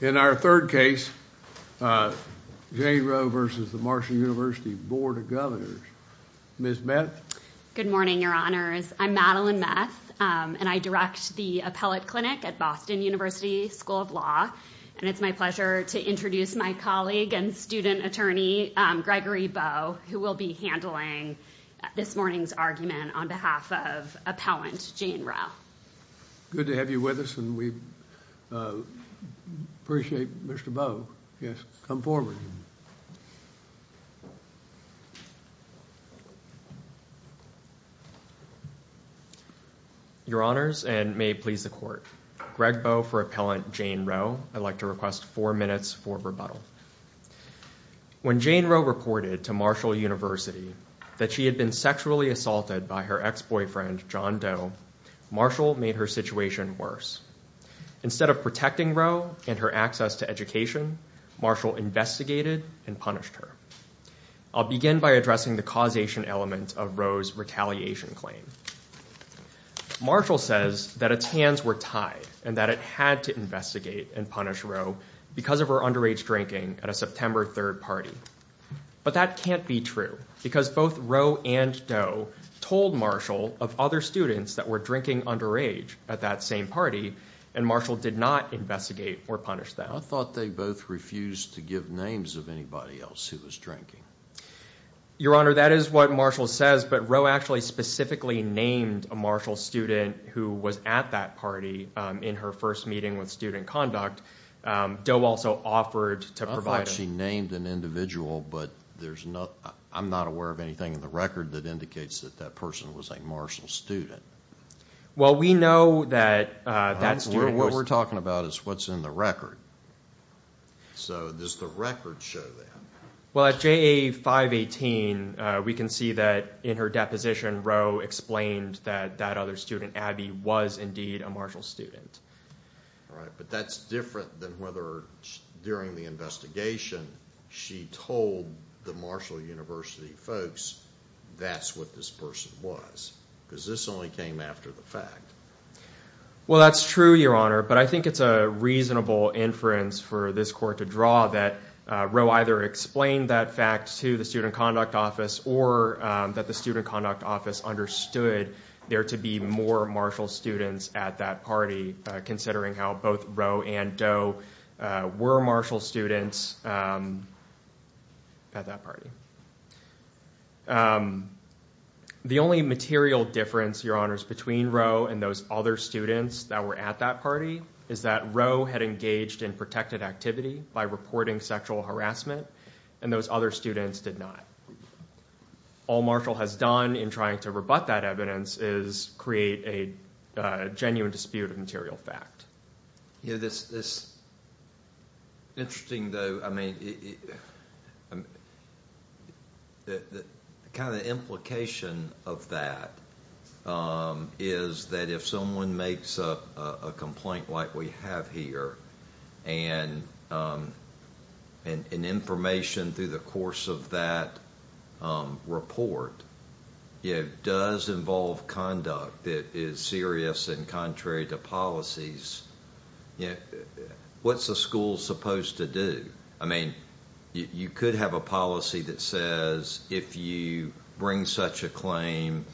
In our third case, Jane Roe v. Marshall University Board of Governors. Ms. Meth? Good morning, Your Honors. I'm Madeline Meth, and I direct the Appellate Clinic at Boston University School of Law. And it's my pleasure to introduce my colleague and student attorney, Gregory Bowe, who will be handling this morning's argument on behalf of Appellant Jane Roe. Good to have you with us, and we appreciate Mr. Bowe. Yes, come forward. Your Honors, and may it please the Court, Greg Bowe for Appellant Jane Roe. I'd like to request four minutes for rebuttal. When Jane Roe reported to Marshall University that she had been sexually assaulted by her ex-boyfriend, John Doe, Marshall made her situation worse. Instead of protecting Roe and her access to education, Marshall investigated and punished her. I'll begin by addressing the causation element of Roe's retaliation claim. Marshall says that its hands were tied and that it had to investigate and punish Roe because of her underage drinking at a September 3rd party. But that can't be true, because both Roe and Doe told Marshall of other students that were drinking underage at that same party, and Marshall did not investigate or punish them. I thought they both refused to give names of anybody else who was drinking. Your Honor, that is what Marshall says, but Roe actually specifically named a Marshall student who was at that party in her first meeting with Student Conduct. Doe also offered to provide— I don't think she named an individual, but I'm not aware of anything in the record that indicates that that person was a Marshall student. Well, we know that that student was— What we're talking about is what's in the record. So does the record show that? Well, at JA 518, we can see that in her deposition, Roe explained that that other student, Abby, was indeed a Marshall student. All right, but that's different than whether during the investigation she told the Marshall University folks that's what this person was, because this only came after the fact. Well, that's true, Your Honor, but I think it's a reasonable inference for this court to draw that Roe either explained that fact to the Student Conduct Office or that the Student Conduct Office understood there to be more Marshall students at that party, considering how both Roe and Doe were Marshall students at that party. The only material difference, Your Honors, between Roe and those other students that were at that party is that Roe had engaged in protected activity by reporting sexual harassment, and those other students did not. All Marshall has done in trying to rebut that evidence is create a genuine dispute of material fact. Yeah, that's interesting, though. I mean, the kind of implication of that is that if someone makes a complaint like we have here and information through the course of that report, does involve conduct that is serious and contrary to policies, what's the school supposed to do? I mean, you could have a policy that says if you bring such a claim,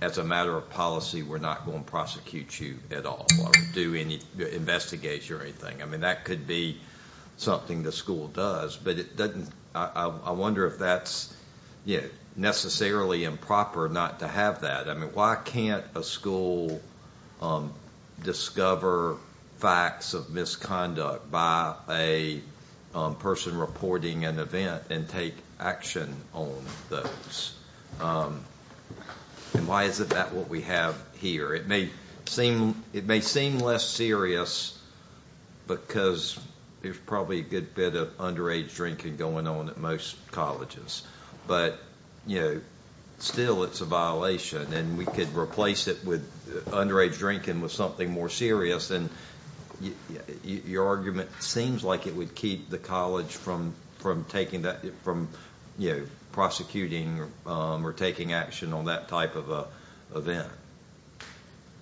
as a matter of policy, we're not going to prosecute you at all or do any investigation or anything. I mean, that could be something the school does, but I wonder if that's necessarily improper not to have that. I mean, why can't a school discover facts of misconduct by a person reporting an event and take action on those? And why is that what we have here? It may seem less serious because there's probably a good bit of underage drinking going on at most colleges, but still it's a violation. And we could replace it with underage drinking with something more serious, and your argument seems like it would keep the college from prosecuting or taking action on that type of event.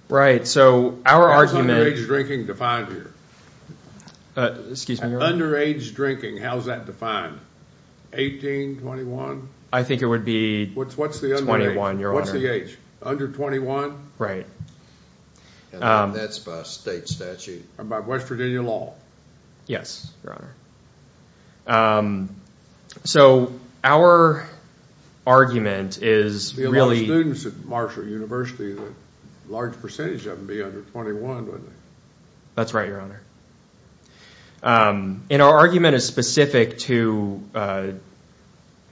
Right, so our argument- How is underage drinking defined here? Excuse me, Your Honor. Underage drinking, how is that defined? 18, 21? I think it would be 21, Your Honor. What's the age? Under 21? Right. That's by state statute. Or by West Virginia law. Yes, Your Honor. So our argument is really- There'd be a lot of students at Marshall University and a large percentage of them would be under 21, wouldn't they? That's right, Your Honor. And our argument is specific to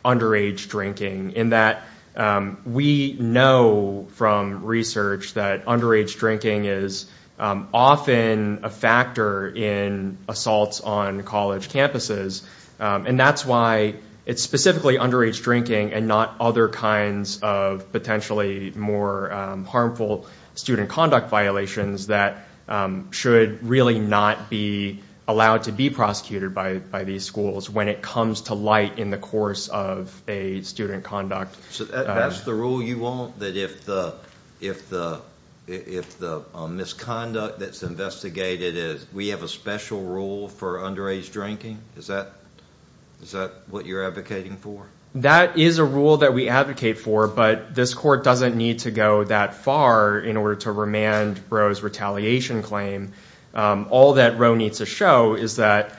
underage drinking in that we know from research that underage drinking is often a factor in assaults on college campuses. And that's why it's specifically underage drinking and not other kinds of potentially more harmful student conduct violations that should really not be allowed to be prosecuted by these schools when it comes to light in the course of a student conduct. So that's the rule you want? That if the misconduct that's investigated, we have a special rule for underage drinking? Is that what you're advocating for? That is a rule that we advocate for, but this court doesn't need to go that far in order to remand Roe's retaliation claim. All that Roe needs to show is that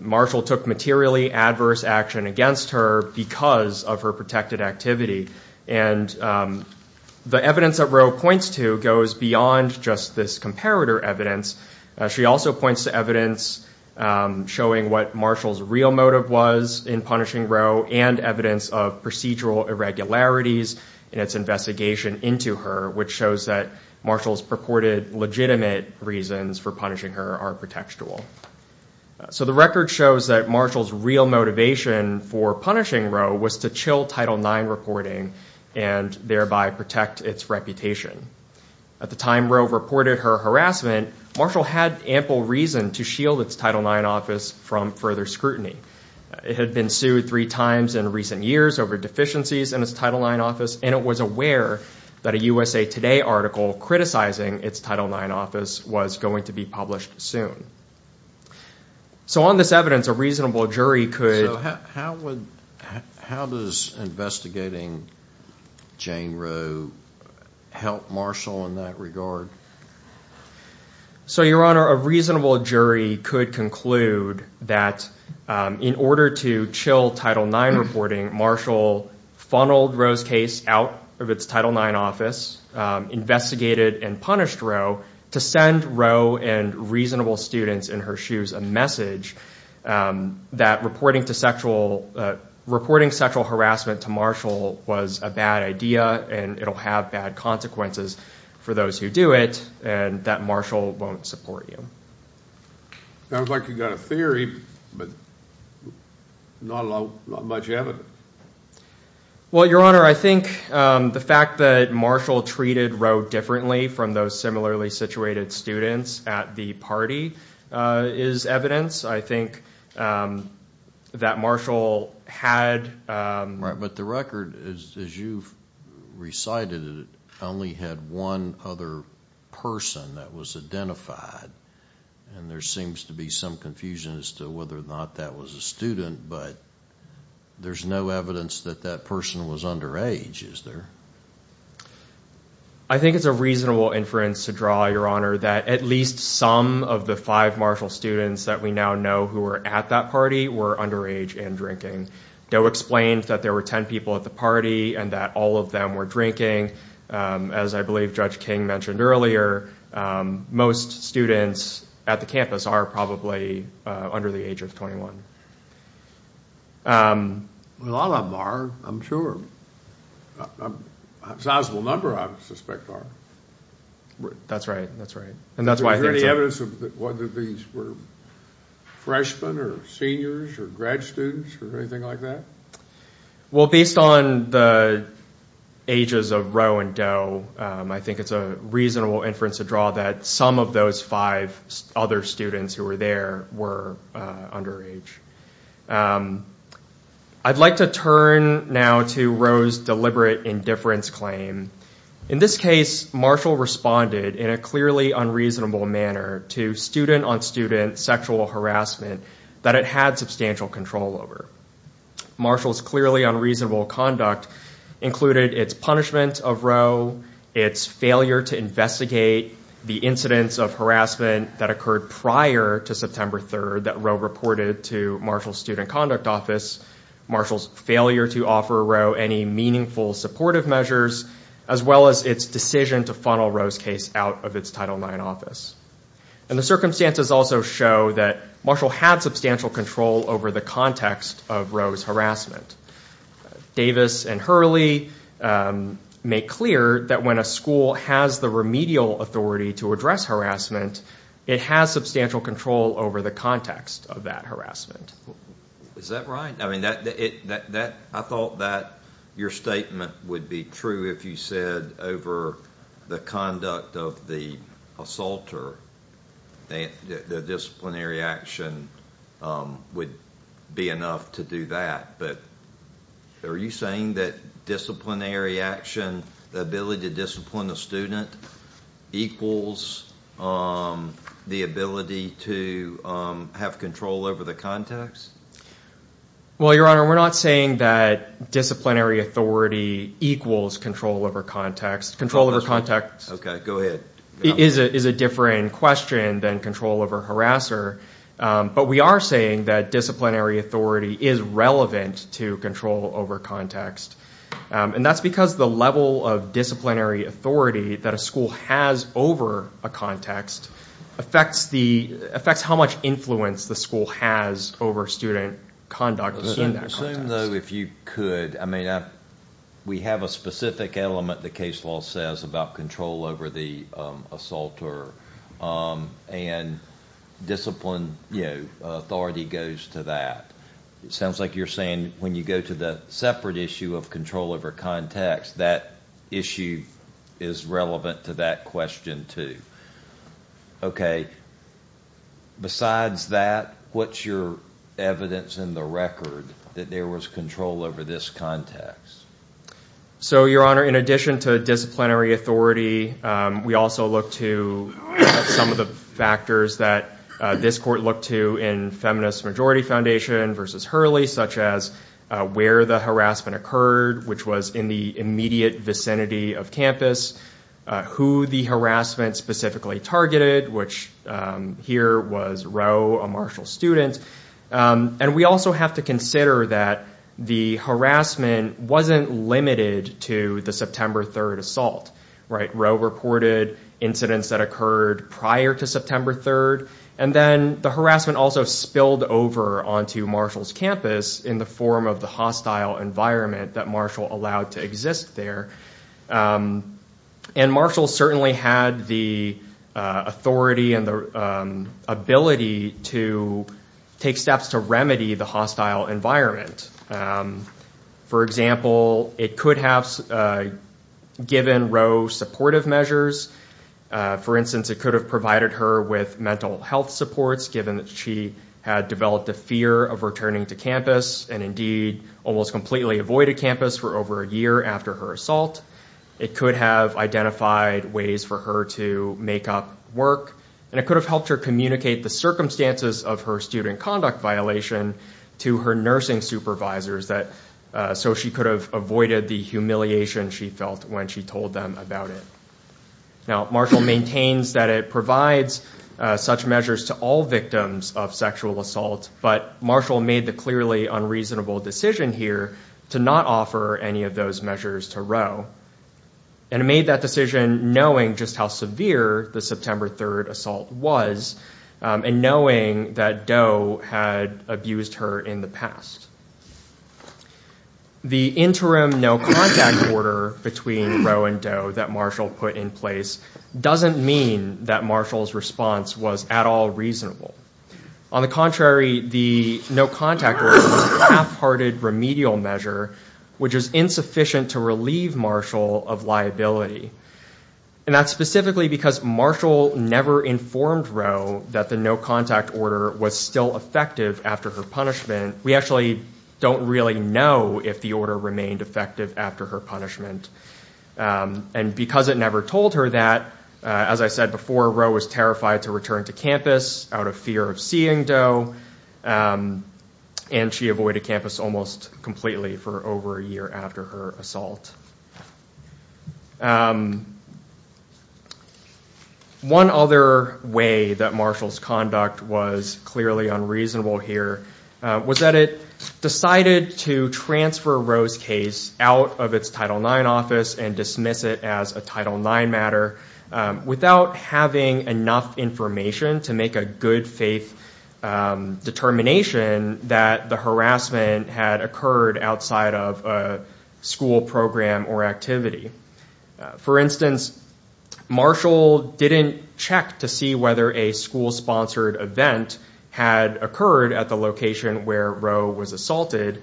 Marshall took materially adverse action against her because of her protected activity. And the evidence that Roe points to goes beyond just this comparator evidence. She also points to evidence showing what Marshall's real motive was in punishing Roe and evidence of procedural irregularities in its investigation into her, which shows that Marshall's purported legitimate reasons for punishing her are pretextual. So the record shows that Marshall's real motivation for punishing Roe was to chill Title IX reporting and thereby protect its reputation. At the time Roe reported her harassment, Marshall had ample reason to shield its Title IX office from further scrutiny. It had been sued three times in recent years over deficiencies in its Title IX office, and it was aware that a USA Today article criticizing its Title IX office was going to be published soon. So on this evidence, a reasonable jury could… So how does investigating Jane Roe help Marshall in that regard? So, Your Honor, a reasonable jury could conclude that in order to chill Title IX reporting, Marshall funneled Roe's case out of its Title IX office, investigated and punished Roe to send Roe and reasonable students in her shoes a message that reporting sexual harassment to Marshall was a bad idea and it will have bad consequences for those who do it. And that Marshall won't support you. Sounds like you've got a theory, but not much evidence. Well, Your Honor, I think the fact that Marshall treated Roe differently from those similarly situated students at the party is evidence. I think that Marshall had… But the record, as you've recited it, only had one other person that was identified, and there seems to be some confusion as to whether or not that was a student, but there's no evidence that that person was underage, is there? I think it's a reasonable inference to draw, Your Honor, that at least some of the five Marshall students that we now know who were at that party were underage and drinking. Doe explained that there were 10 people at the party and that all of them were drinking. As I believe Judge King mentioned earlier, most students at the campus are probably under the age of 21. A lot of them are, I'm sure. A sizable number, I would suspect, are. That's right, that's right. And that's why I think… Do you have any evidence of whether these were freshmen or seniors or grad students or anything like that? Well, based on the ages of Roe and Doe, I think it's a reasonable inference to draw that some of those five other students who were there were underage. I'd like to turn now to Roe's deliberate indifference claim. In this case, Marshall responded in a clearly unreasonable manner to student-on-student sexual harassment that it had substantial control over. Marshall's clearly unreasonable conduct included its punishment of Roe, its failure to investigate the incidents of harassment that occurred prior to September 3rd that Roe reported to Marshall's Student Conduct Office, Marshall's failure to offer Roe any meaningful supportive measures, as well as its decision to funnel Roe's case out of its Title IX office. And the circumstances also show that Marshall had substantial control over the context of Roe's harassment. Davis and Hurley make clear that when a school has the remedial authority to address harassment, it has substantial control over the context of that harassment. Is that right? I thought that your statement would be true if you said over the conduct of the assaulter that disciplinary action would be enough to do that. But are you saying that disciplinary action, the ability to discipline a student, equals the ability to have control over the context? Well, Your Honor, we're not saying that disciplinary authority equals control over context. Control over context is a different question than control over harasser. But we are saying that disciplinary authority is relevant to control over context. And that's because the level of disciplinary authority that a school has over a context affects how much influence the school has over student conduct in that context. I assume, though, if you could, I mean, we have a specific element, the case law says, about control over the assaulter. And discipline, you know, authority goes to that. It sounds like you're saying when you go to the separate issue of control over context, that issue is relevant to that question, too. Okay. Besides that, what's your evidence in the record that there was control over this context? So, Your Honor, in addition to disciplinary authority, we also look to some of the factors that this court looked to in Feminist Majority Foundation v. Hurley, such as where the harassment occurred, which was in the immediate vicinity of campus, who the harassment specifically targeted, which here was Rowe, a Marshall student. And we also have to consider that the harassment wasn't limited to the September 3rd assault. Rowe reported incidents that occurred prior to September 3rd. And then the harassment also spilled over onto Marshall's campus in the form of the hostile environment that Marshall allowed to exist there. And Marshall certainly had the authority and the ability to take steps to remedy the hostile environment. For example, it could have given Rowe supportive measures. For instance, it could have provided her with mental health supports, given that she had developed a fear of returning to campus, and indeed almost completely avoided campus for over a year after her assault. It could have identified ways for her to make up work. And it could have helped her communicate the circumstances of her student conduct violation to her nursing supervisors, so she could have avoided the humiliation she felt when she told them about it. Now, Marshall maintains that it provides such measures to all victims of sexual assault, but Marshall made the clearly unreasonable decision here to not offer any of those measures to Rowe. And it made that decision knowing just how severe the September 3rd assault was, and knowing that Rowe had abused her in the past. The interim no-contact order between Rowe and Rowe that Marshall put in place doesn't mean that Marshall's response was at all reasonable. On the contrary, the no-contact order is a half-hearted remedial measure, which is insufficient to relieve Marshall of liability. And that's specifically because Marshall never informed Rowe that the no-contact order was still effective after her punishment. We actually don't really know if the order remained effective after her punishment. And because it never told her that, as I said before, Rowe was terrified to return to campus out of fear of seeing Doe, and she avoided campus almost completely for over a year after her assault. One other way that Marshall's conduct was clearly unreasonable here was that it decided to transfer Rowe's case out of its Title IX office and dismiss it as a Title IX matter, without having enough information to make a good-faith determination that the harassment had occurred outside of a school program or activity. For instance, Marshall didn't check to see whether a school-sponsored event had occurred at the location where Rowe's case occurred. It was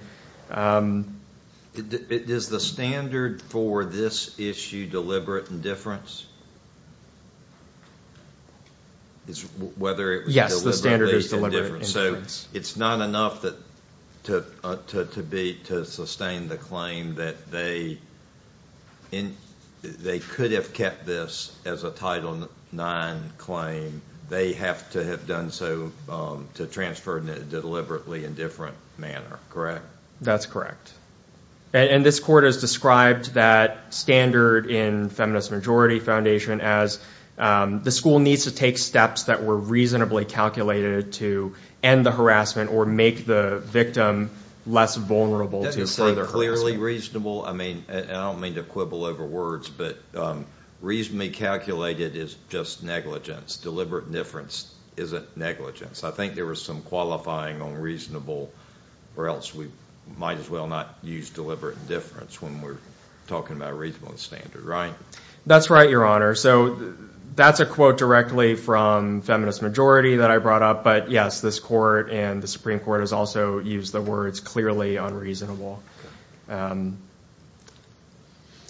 a school-sponsored event where Rowe was assaulted. Is the standard for this issue deliberate indifference? Yes, the standard is deliberate indifference. So it's not enough to sustain the claim that they could have kept this as a Title IX claim. They have to have done so to transfer it in a deliberately indifferent manner, correct? That's correct. And this Court has described that standard in Feminist Majority Foundation as the school needs to take steps that were reasonably calculated to end the harassment or make the victim less vulnerable to further harassment. That is clearly reasonable. I don't mean to quibble over words, but reasonably calculated is just negligence. Deliberate indifference isn't negligence. I think there was some qualifying on reasonable or else we might as well not use deliberate indifference when we're talking about a reasonable standard, right? That's right, Your Honor. So that's a quote directly from Feminist Majority that I brought up. But yes, this Court and the Supreme Court has also used the words clearly unreasonable.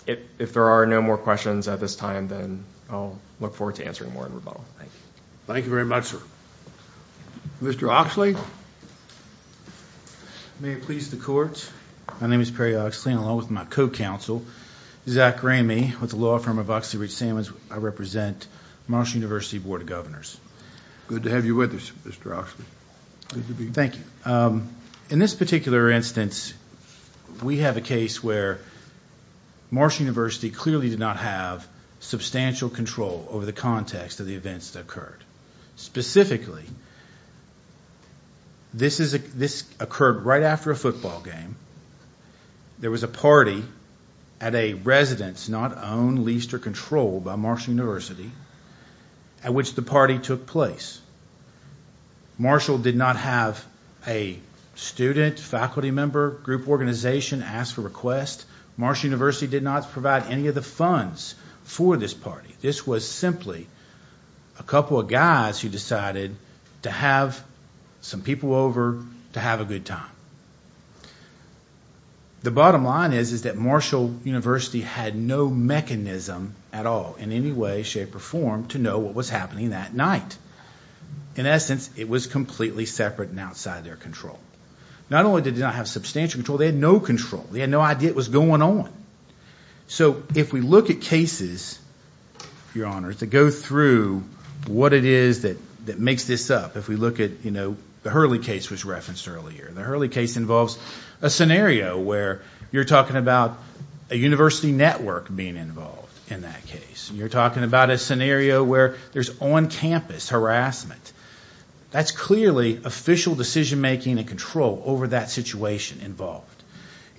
If there are no more questions at this time, then I'll look forward to answering more in rebuttal. Thank you. Thank you very much, sir. Mr. Oxley, may it please the Court. My name is Perry Oxley and along with my co-counsel, Zach Ramey, with the law firm of Oxley Ridge-Salmons, I represent Marshall University Board of Governors. Good to have you with us, Mr. Oxley. Thank you. In this particular instance, we have a case where Marshall University clearly did not have substantial control over the context of the events that occurred. Specifically, this occurred right after a football game. There was a party at a residence not owned, leased, or controlled by Marshall University at which the party took place. Marshall did not have a student, faculty member, group organization ask for requests. Marshall University did not provide any of the funds for this party. This was simply a couple of guys who decided to have some people over to have a good time. The bottom line is that Marshall University had no mechanism at all in any way, shape, or form to know what was happening that night. In essence, it was completely separate and outside their control. Not only did they not have substantial control, they had no control. They had no idea what was going on. If we look at cases, Your Honor, to go through what it is that makes this up, if we look at the Hurley case which was referenced earlier. The Hurley case involves a scenario where you're talking about a university network being involved in that case. You're talking about a scenario where there's on-campus harassment. That's clearly official decision making and control over that situation involved.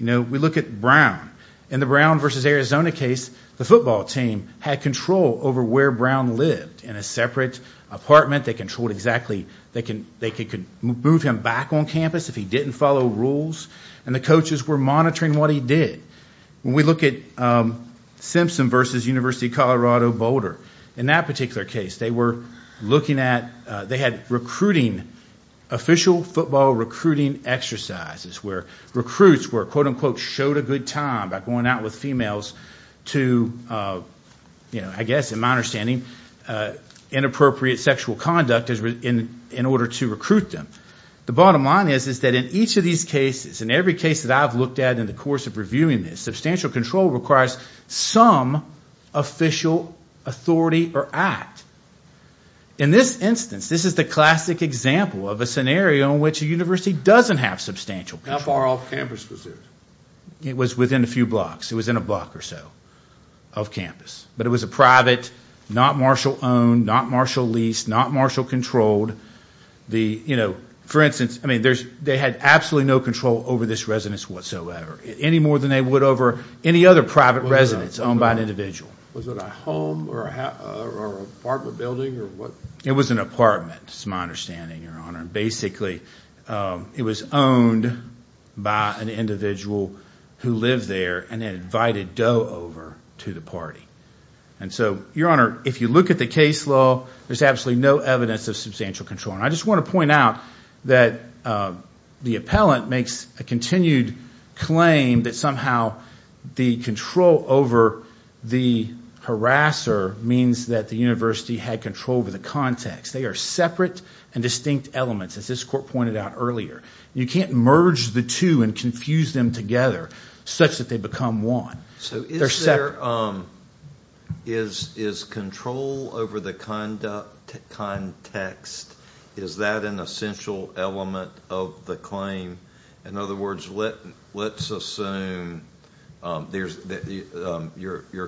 We look at Brown. In the Brown versus Arizona case, the football team had control over where Brown lived. In a separate apartment, they could move him back on campus if he didn't follow rules. The coaches were monitoring what he did. When we look at Simpson versus University of Colorado Boulder. In that particular case, they had recruiting, official football recruiting exercises. Where recruits were, quote unquote, showed a good time by going out with females to, I guess in my understanding, inappropriate sexual conduct in order to recruit them. The bottom line is that in each of these cases, in every case that I've looked at in the course of reviewing this, substantial control requires some official authority or act. In this instance, this is the classic example of a scenario in which a university doesn't have substantial control. How far off campus was it? It was within a few blocks. It was within a block or so of campus. But it was a private, not Marshall owned, not Marshall leased, not Marshall controlled. For instance, they had absolutely no control over this residence whatsoever. Any more than they would over any other private residence owned by an individual. Was it a home or apartment building? It was an apartment, is my understanding, Your Honor. Basically, it was owned by an individual who lived there and had invited Doe over to the party. Your Honor, if you look at the case law, there's absolutely no evidence of substantial control. I just want to point out that the appellant makes a continued claim that somehow the control over the harasser means that the university had control over Doe. They are separate and distinct elements, as this court pointed out earlier. You can't merge the two and confuse them together such that they become one. Is control over the context, is that an essential element of the claim? In other words, let's assume your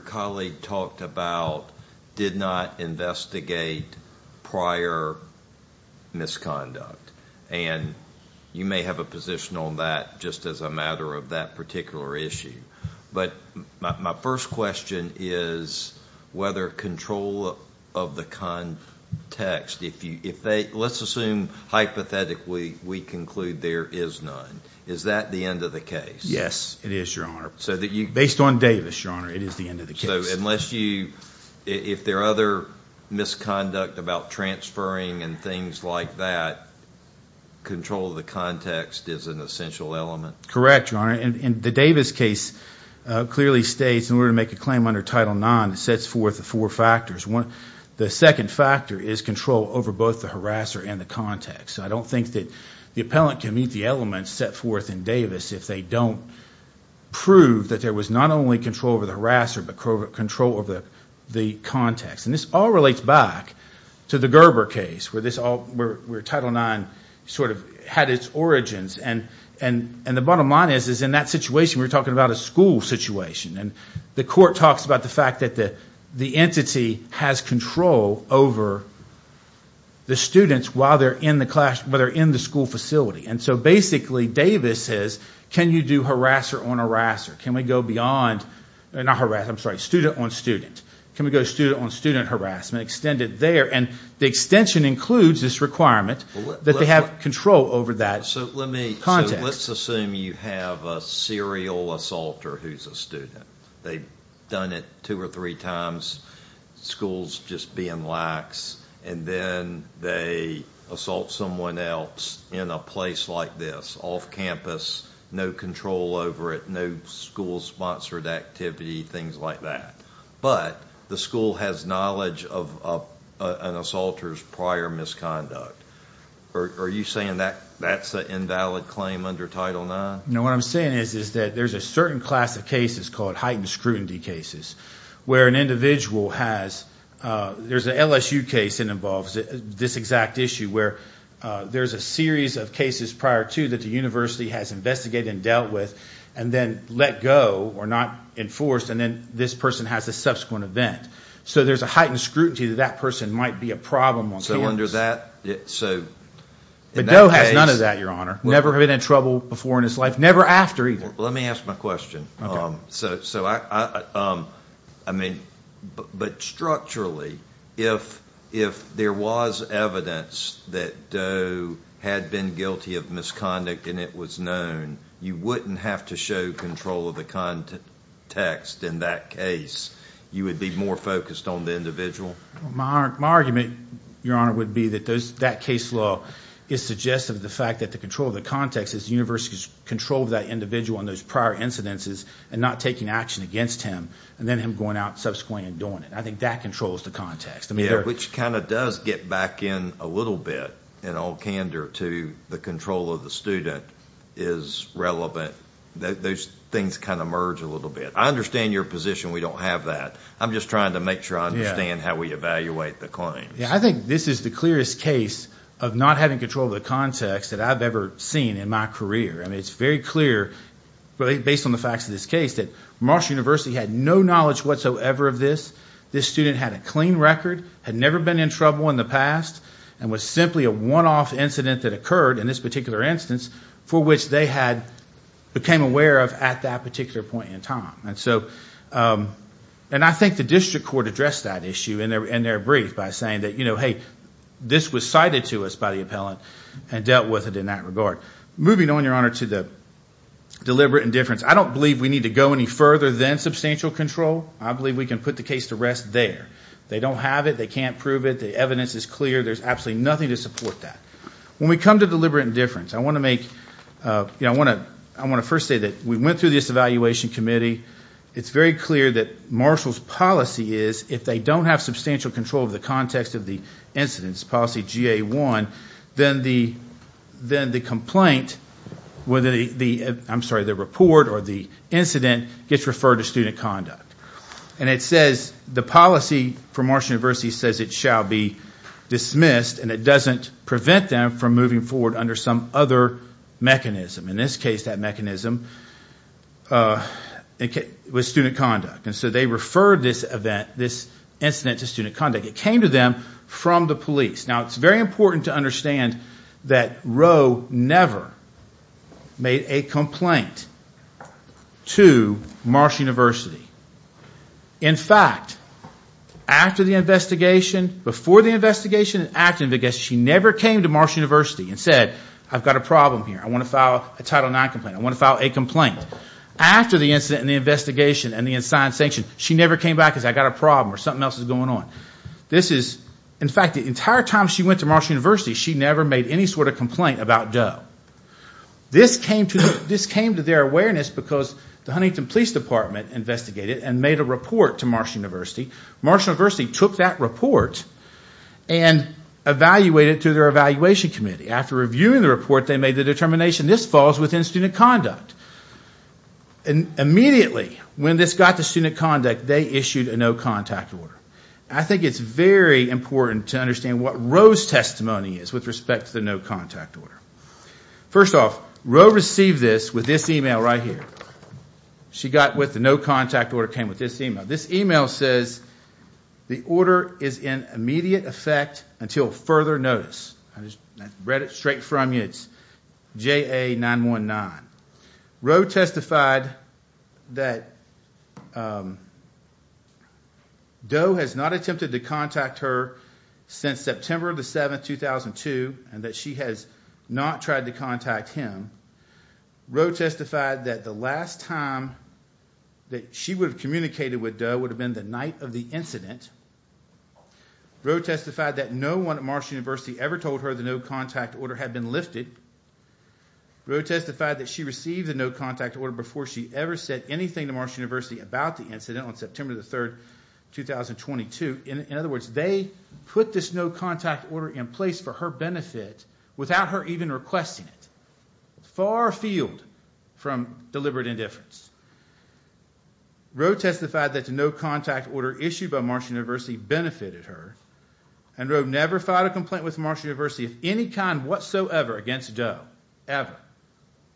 colleague talked about, did not investigate Doe. Did not investigate prior misconduct. You may have a position on that just as a matter of that particular issue. My first question is whether control of the context, let's assume hypothetically we conclude there is none. Is that the end of the case? Yes, it is, Your Honor. Based on Davis, Your Honor, it is the end of the case. If there are other misconduct about transferring and things like that, control of the context is an essential element? Correct, Your Honor. The Davis case clearly states in order to make a claim under Title IX, it sets forth the four factors. The second factor is control over both the harasser and the context. I don't think the appellant can meet the elements set forth in Davis if they don't prove that there was not only control over the harasser, but control over the context. This all relates back to the Gerber case where Title IX had its origins. The bottom line is in that situation, we're talking about a school situation. The court talks about the fact that the entity has control over the students while they're in the school facility. Basically, Davis says, can you do student on student harassment? The extension includes this requirement that they have control over that context. Let's assume you have a serial assaulter who's a student. They've done it two or three times, school's just being lax, and then they assault someone else in a place like this, off campus, no control over it, no school-sponsored activity, things like that. But the school has knowledge of an assaulter's prior misconduct. Are you saying that's an invalid claim under Title IX? No, what I'm saying is that there's a certain class of cases called heightened scrutiny cases where an individual has, there's an LSU case that involves this exact issue where there's a series of cases prior to that the university has investigated and dealt with, and then let go or not enforced, and then this person has a subsequent event. So there's a heightened scrutiny that that person might be a problem on campus. But Doe has none of that, Your Honor, never been in trouble before in his life, never after either. Let me ask my question. Structurally, if there was evidence that Doe had been guilty of misconduct and it was known, you wouldn't have to show control of the context in that case? You would be more focused on the individual? My argument, Your Honor, would be that that case law is suggestive of the fact that the control of the context is the university's control of that individual on those prior incidences and not taking action against him, and then him going out subsequently and doing it. I think that controls the context. Yeah, which kind of does get back in a little bit in all candor to the control of the student is relevant. Those things kind of merge a little bit. I understand your position. We don't have that. I'm just trying to make sure I understand how we evaluate the claims. I think this is the clearest case of not having control of the context that I've ever seen in my career. It's very clear, based on the facts of this case, that Marshall University had no knowledge whatsoever of this. This student had a clean record, had never been in trouble in the past, and was simply a one-off incident that occurred in this particular instance for which they had become aware of at that particular point in time. I think the district court addressed that issue in their brief by saying, hey, this was cited to us by the appellant and dealt with it in that regard. Moving on, Your Honor, to the deliberate indifference. I don't believe we need to go any further than substantial control. I believe we can put the case to rest there. They don't have it. They can't prove it. The evidence is clear. There's absolutely nothing to support that. When we come to deliberate indifference, I want to first say that we went through this evaluation committee. It's very clear that Marshall's policy is, if they don't have substantial control of the context of the incidents, policy GA1, then the report or the incident gets referred to student conduct. The policy for Marshall University says it shall be dismissed, and it doesn't prevent them from moving forward under some other mechanism. In this case, that mechanism was student conduct. So they referred this incident to student conduct. It came to them from the police. Now, it's very important to understand that Roe never made a complaint to Marshall University. In fact, after the investigation, before the investigation, and after the investigation, she never came to Marshall University and said, I've got a problem here. I want to file a Title IX complaint. I want to file a complaint. After the incident and the investigation and the assigned sanction, she never came back and said, I've got a problem or something else is going on. In fact, the entire time she went to Marshall University, she never made any sort of complaint about Doe. This came to their awareness because the Huntington Police Department investigated and made a report to Marshall University. Marshall University took that report and evaluated it through their evaluation committee. After reviewing the report, they made the determination this falls within student conduct. Immediately when this got to student conduct, they issued a no-contact order. I think it's very important to understand what Roe's testimony is with respect to the no-contact order. First off, Roe received this with this email right here. She got with the no-contact order, came with this email. This email says, the order is in immediate effect until further notice. I just read it straight from you. It's JA-919. Roe testified that Doe has not attempted to contact her since September 7, 2002, and that she has not tried to contact him. Roe testified that the last time that she would have communicated with Doe would have been the night of the incident. Roe testified that no one at Marshall University ever told her the no-contact order had been lifted. Roe testified that she received the no-contact order before she ever said anything to Marshall University about the incident on September 3, 2022. In other words, they put this no-contact order in place for her benefit without her even requesting it. Far afield from deliberate indifference. Roe testified that the no-contact order issued by Marshall University benefited her. And Roe never filed a complaint with Marshall University of any kind whatsoever against Doe. Ever.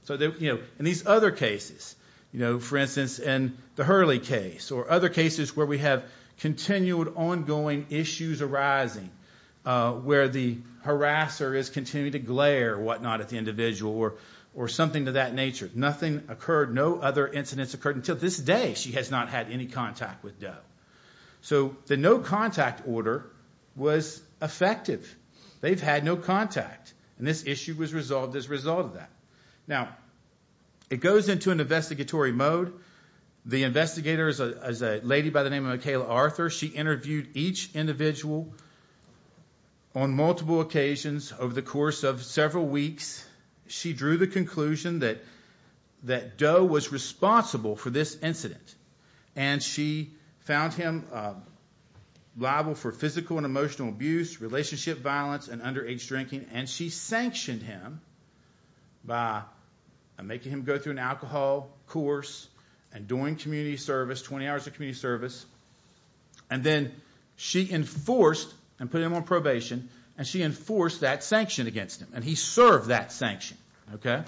In these other cases, for instance, in the Hurley case, or other cases where we have continued ongoing issues arising, where the harasser is continuing to glare at the individual or something of that nature, nothing occurred, no other incidents occurred until this day she has not had any contact with Doe. So the no-contact order was effective. They've had no contact. And this issue was resolved as a result of that. Now, it goes into an investigatory mode. The investigator is a lady by the name of Michaela Arthur. She interviewed each individual on multiple occasions over the course of several weeks. She drew the conclusion that Doe was responsible for this incident. And she found him liable for physical and emotional abuse, relationship violence, and underage drinking. And she sanctioned him by making him go through an alcohol course and doing community service, 20 hours of community service. And then she enforced and put him on probation, and she enforced that sanction against him. And he served that sanction. I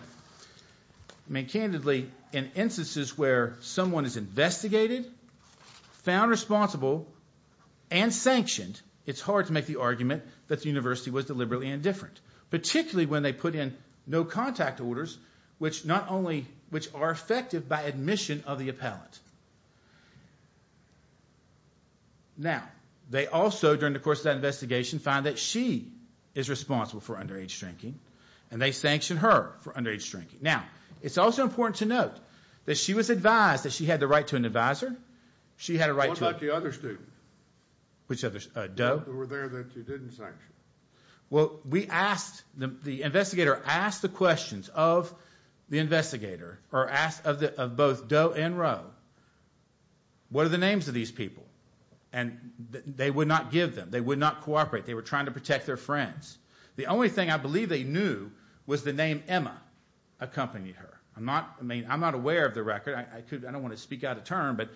mean, candidly, in instances where someone is investigated, found responsible, and sanctioned, it's hard to make the argument that the university was deliberately indifferent, particularly when they put in no-contact orders, which are effective by admission of the appellant. Now, they also, during the course of that investigation, found that she is responsible for underage drinking, and they sanctioned her for underage drinking. Now, it's also important to note that she was advised that she had the right to an advisor. She had a right to... What about the other students? Which others? Doe? Who were there that you didn't sanction. Well, we asked, the investigator asked the questions of the investigator, or asked of both Doe and Rowe, what are the names of these people? And they would not give them. They would not cooperate. They were trying to protect their friends. The only thing I believe they knew was the name Emma accompanied her. I'm not aware of the record. I don't want to speak out of turn, but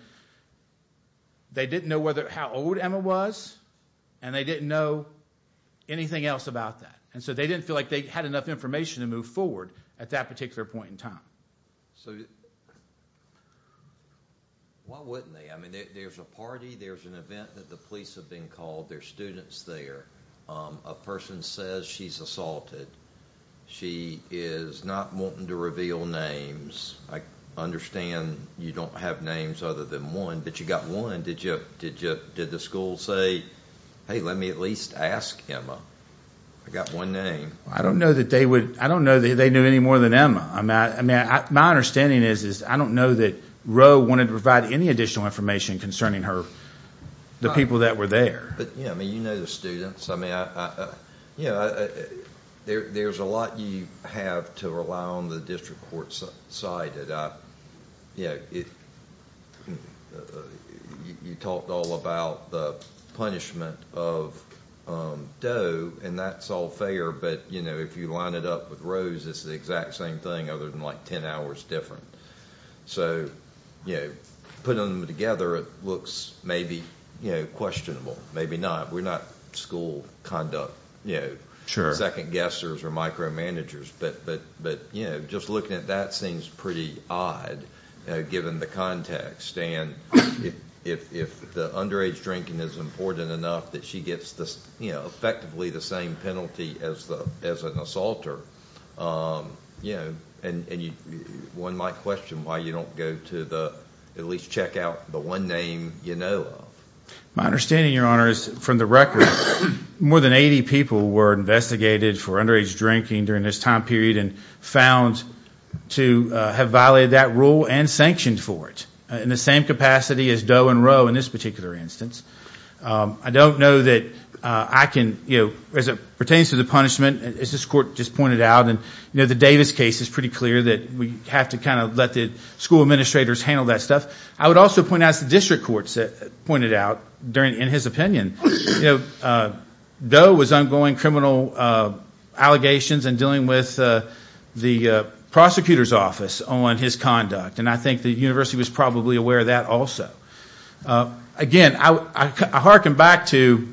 they didn't know how old Emma was, and they didn't know anything else about that. And so they didn't feel like they had enough information to move forward at that particular point in time. Why wouldn't they? I mean, there's a party, there's an event that the police have been called, there's students there, a person says she's assaulted. She is not wanting to reveal names. I understand you don't have names other than one, but you got one. Did the school say, hey, let me at least ask Emma? I got one name. I don't know that they knew any more than Emma. My understanding is I don't know that Rowe wanted to provide any additional information concerning the people that were there. You know the students. There's a lot you have to rely on the district court side. You talked all about the punishment of Doe, and that's all fair, but if you line it up with Rowe's, it's the exact same thing other than 10 hours different. So putting them together, it looks maybe questionable, maybe not. We're not school conduct second-guessers or micromanagers, but just looking at that seems pretty odd given the context. And if the underage drinking is important enough that she gets effectively the same penalty as an assaulter, and one might question why you don't go to at least check out the one name you know of. My understanding, Your Honor, is from the record, more than 80 people were investigated for underage drinking during this time period and found to have violated that rule and sanctioned for it in the same capacity as Doe and Rowe in this particular instance. I don't know that I can, you know, as it pertains to the punishment, as this court just pointed out, and the Davis case is pretty clear that we have to kind of let the school administrators handle that stuff. I would also point out, as the district court pointed out in his opinion, Doe was ongoing criminal allegations and dealing with the prosecutor's office on his conduct, and I think the university was probably aware of that also. Again, I hearken back to,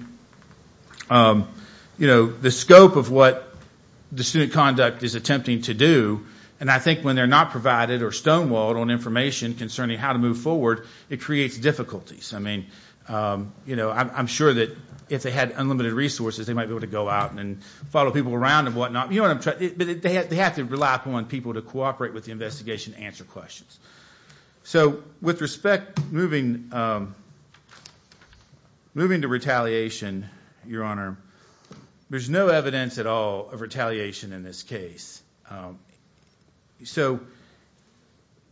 you know, the scope of what the student conduct is attempting to do, and I think when they're not provided or stonewalled on information concerning how to move forward, it creates difficulties. I mean, you know, I'm sure that if they had unlimited resources, they might be able to go out and follow people around and whatnot, but they have to rely upon people to cooperate with the investigation to answer questions. So with respect, moving to retaliation, Your Honor, there's no evidence at all of retaliation in this case. So...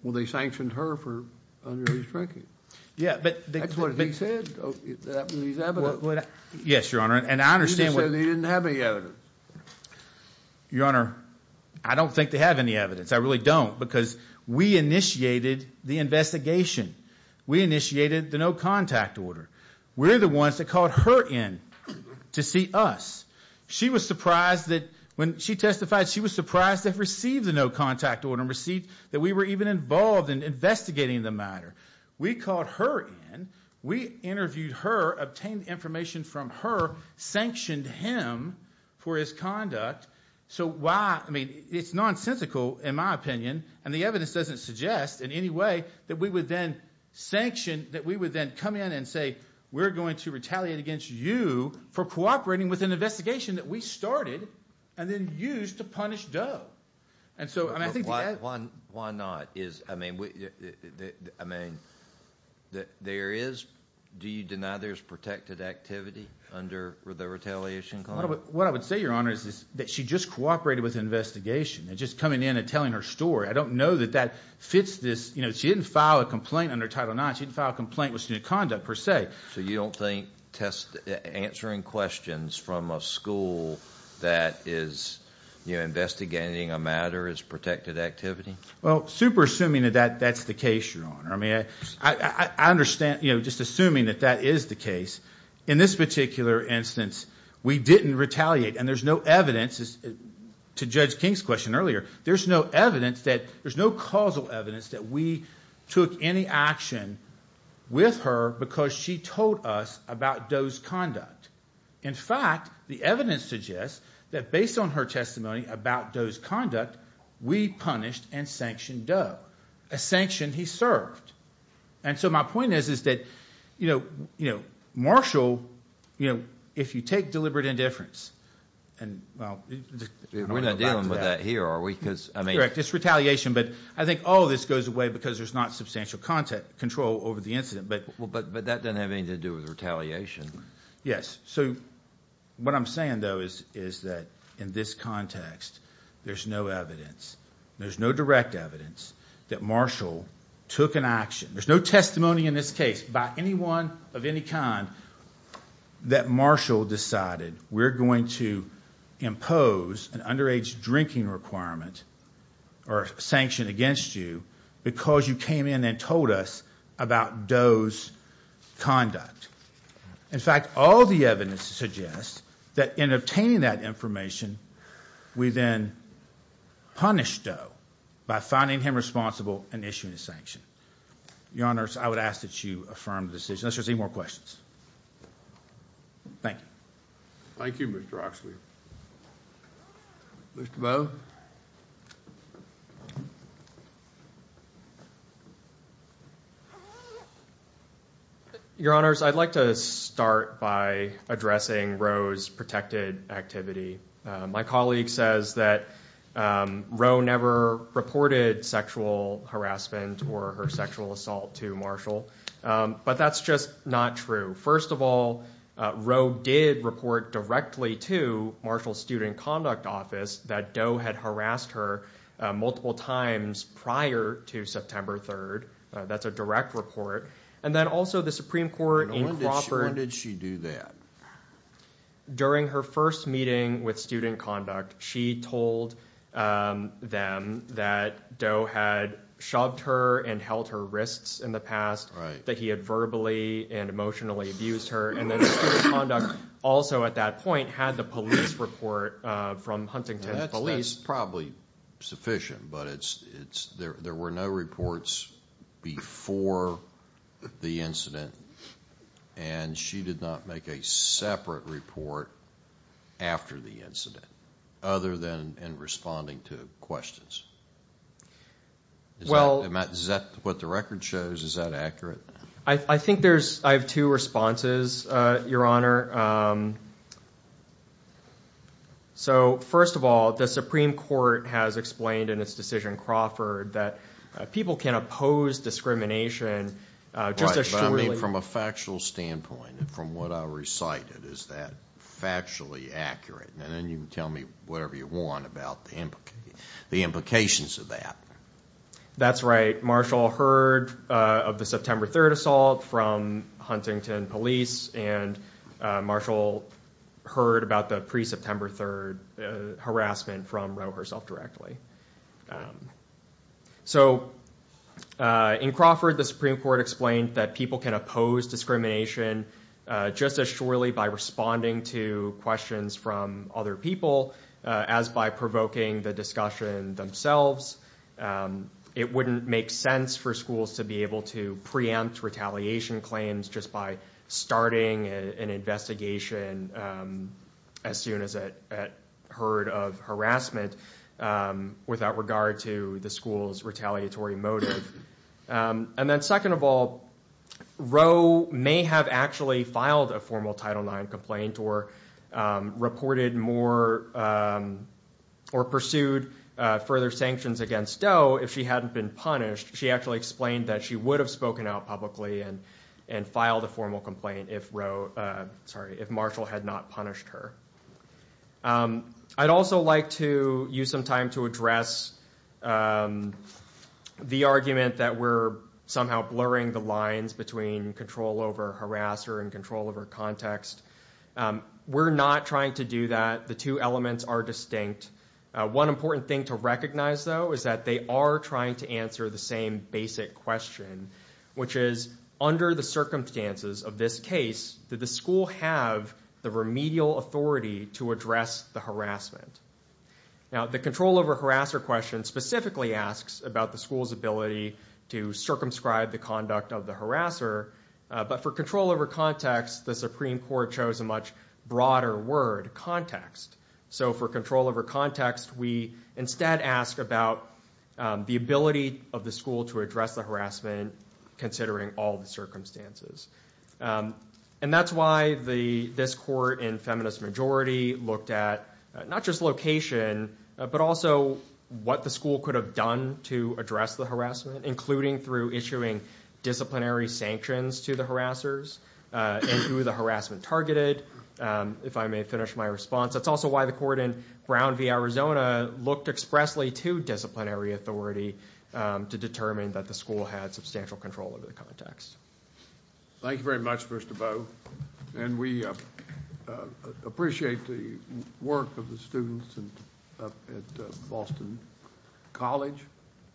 Well, they sanctioned her for underage drinking. Yeah, but... That's what he said. That was his evidence. Yes, Your Honor, and I understand what... He said he didn't have any evidence. Your Honor, I don't think they have any evidence. I really don't because we initiated the investigation. We initiated the no-contact order. We're the ones that called her in to see us. She was surprised that when she testified, she was surprised to have received the no-contact order and received that we were even involved in investigating the matter. We called her in. We interviewed her, obtained information from her, sanctioned him for his conduct. So why... I mean, it's nonsensical in my opinion, and the evidence doesn't suggest in any way that we would then sanction, that we would then come in and say, we're going to retaliate against you for cooperating with an investigation that we started and then used to punish Doe. And so... Why not? I mean, there is... Do you deny there's protected activity under the retaliation clause? What I would say, Your Honor, is that she just cooperated with an investigation. Just coming in and telling her story. I don't know that that fits this... She didn't file a complaint under Title IX. She didn't file a complaint with student conduct per se. So you don't think test... Answering questions from a school that is investigating a matter is protected activity? Well, super assuming that that's the case, Your Honor. I mean, I understand... Just assuming that that is the case. In this particular instance, we didn't retaliate. And there's no evidence, to Judge King's question earlier, there's no evidence that... There's no causal evidence that we took any action with her because she told us about Doe's conduct. In fact, the evidence suggests that based on her testimony about Doe's conduct, we punished and sanctioned Doe. A sanction he served. And so my point is that Marshall, if you take deliberate indifference... We're not dealing with that here, are we? Correct. It's retaliation. But I think all of this goes away because there's not substantial control over the incident. But that doesn't have anything to do with retaliation. Yes. So what I'm saying, though, is that in this context, there's no evidence. There's no direct evidence that Marshall took an action. There's no testimony in this case by anyone of any kind that Marshall decided, we're going to impose an underage drinking requirement or sanction against you because you came in and told us about Doe's conduct. In fact, all the evidence suggests that in obtaining that information, we then punished Doe by finding him responsible and issuing a sanction. Your Honours, I would ask that you affirm the decision. Unless there's any more questions. Thank you. Thank you, Mr. Oxley. Mr. Bowe. Your Honours, I'd like to start by addressing Roe's protected activity. My colleague says that Roe never reported sexual harassment or her sexual assault to Marshall. But that's just not true. First of all, Roe did report directly to Marshall's Student Conduct Office that Doe had harassed her multiple times prior to September 3rd. That's a direct report. And then also the Supreme Court in Crawford... When did she do that? During her first meeting with Student Conduct, she told them that Doe had shoved her and held her wrists in the past, that he had verbally and emotionally abused her. And then Student Conduct also at that point had the police report from Huntington Police. That's probably sufficient, but there were no reports before the incident, and she did not make a separate report after the incident other than in responding to questions. Is that what the record shows? Is that accurate? I think I have two responses, Your Honor. First of all, the Supreme Court has explained in its decision in Crawford that people can oppose discrimination just as surely... Right, but I mean from a factual standpoint. From what I recited, is that factually accurate? And then you can tell me whatever you want about the implications of that. That's right. Marshall heard of the September 3rd assault from Huntington Police, and Marshall heard about the pre-September 3rd harassment from Roe herself directly. So in Crawford, the Supreme Court explained that people can oppose discrimination just as surely by responding to questions from other people as by provoking the discussion themselves. It wouldn't make sense for schools to be able to preempt retaliation claims just by starting an investigation as soon as it heard of harassment without regard to the school's retaliatory motive. And then second of all, Roe may have actually filed a formal Title IX complaint or pursued further sanctions against Doe if she hadn't been punished. She actually explained that she would have spoken out publicly and filed a formal complaint if Marshall had not punished her. I'd also like to use some time to address the argument that we're somehow blurring the lines between control over harasser and control over context. We're not trying to do that. The two elements are distinct. One important thing to recognize, though, is that they are trying to answer the same basic question, which is, under the circumstances of this case, did the school have the remedial authority to address the harassment? Now, the control over harasser question specifically asks about the school's ability to circumscribe the conduct of the harasser. But for control over context, the Supreme Court chose a much broader word, context. So for control over context, we instead ask about the ability of the school to address the harassment considering all the circumstances. And that's why this court in feminist majority looked at not just location, but also what the school could have done to address the harassment, including through issuing disciplinary sanctions to the harassers and who the harassment targeted. If I may finish my response, that's also why the court in Brown v. Arizona looked expressly to disciplinary authority to determine that the school had substantial control over the context. Thank you very much, Mr. Bowe. And we appreciate the work of the students up at Boston College?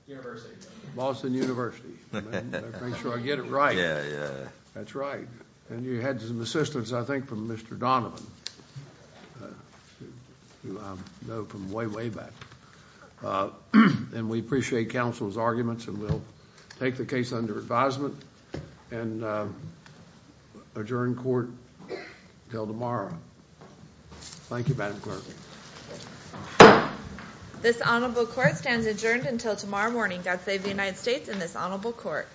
University. Boston University. Make sure I get it right. Yeah, yeah. That's right. And you had some assistance, I think, from Mr. Donovan, who I know from way, way back. And we appreciate counsel's arguments and we'll take the case under advisement and adjourn court until tomorrow. Thank you, Madam Clerk. This honorable court stands adjourned until tomorrow morning. God save the United States and this honorable court.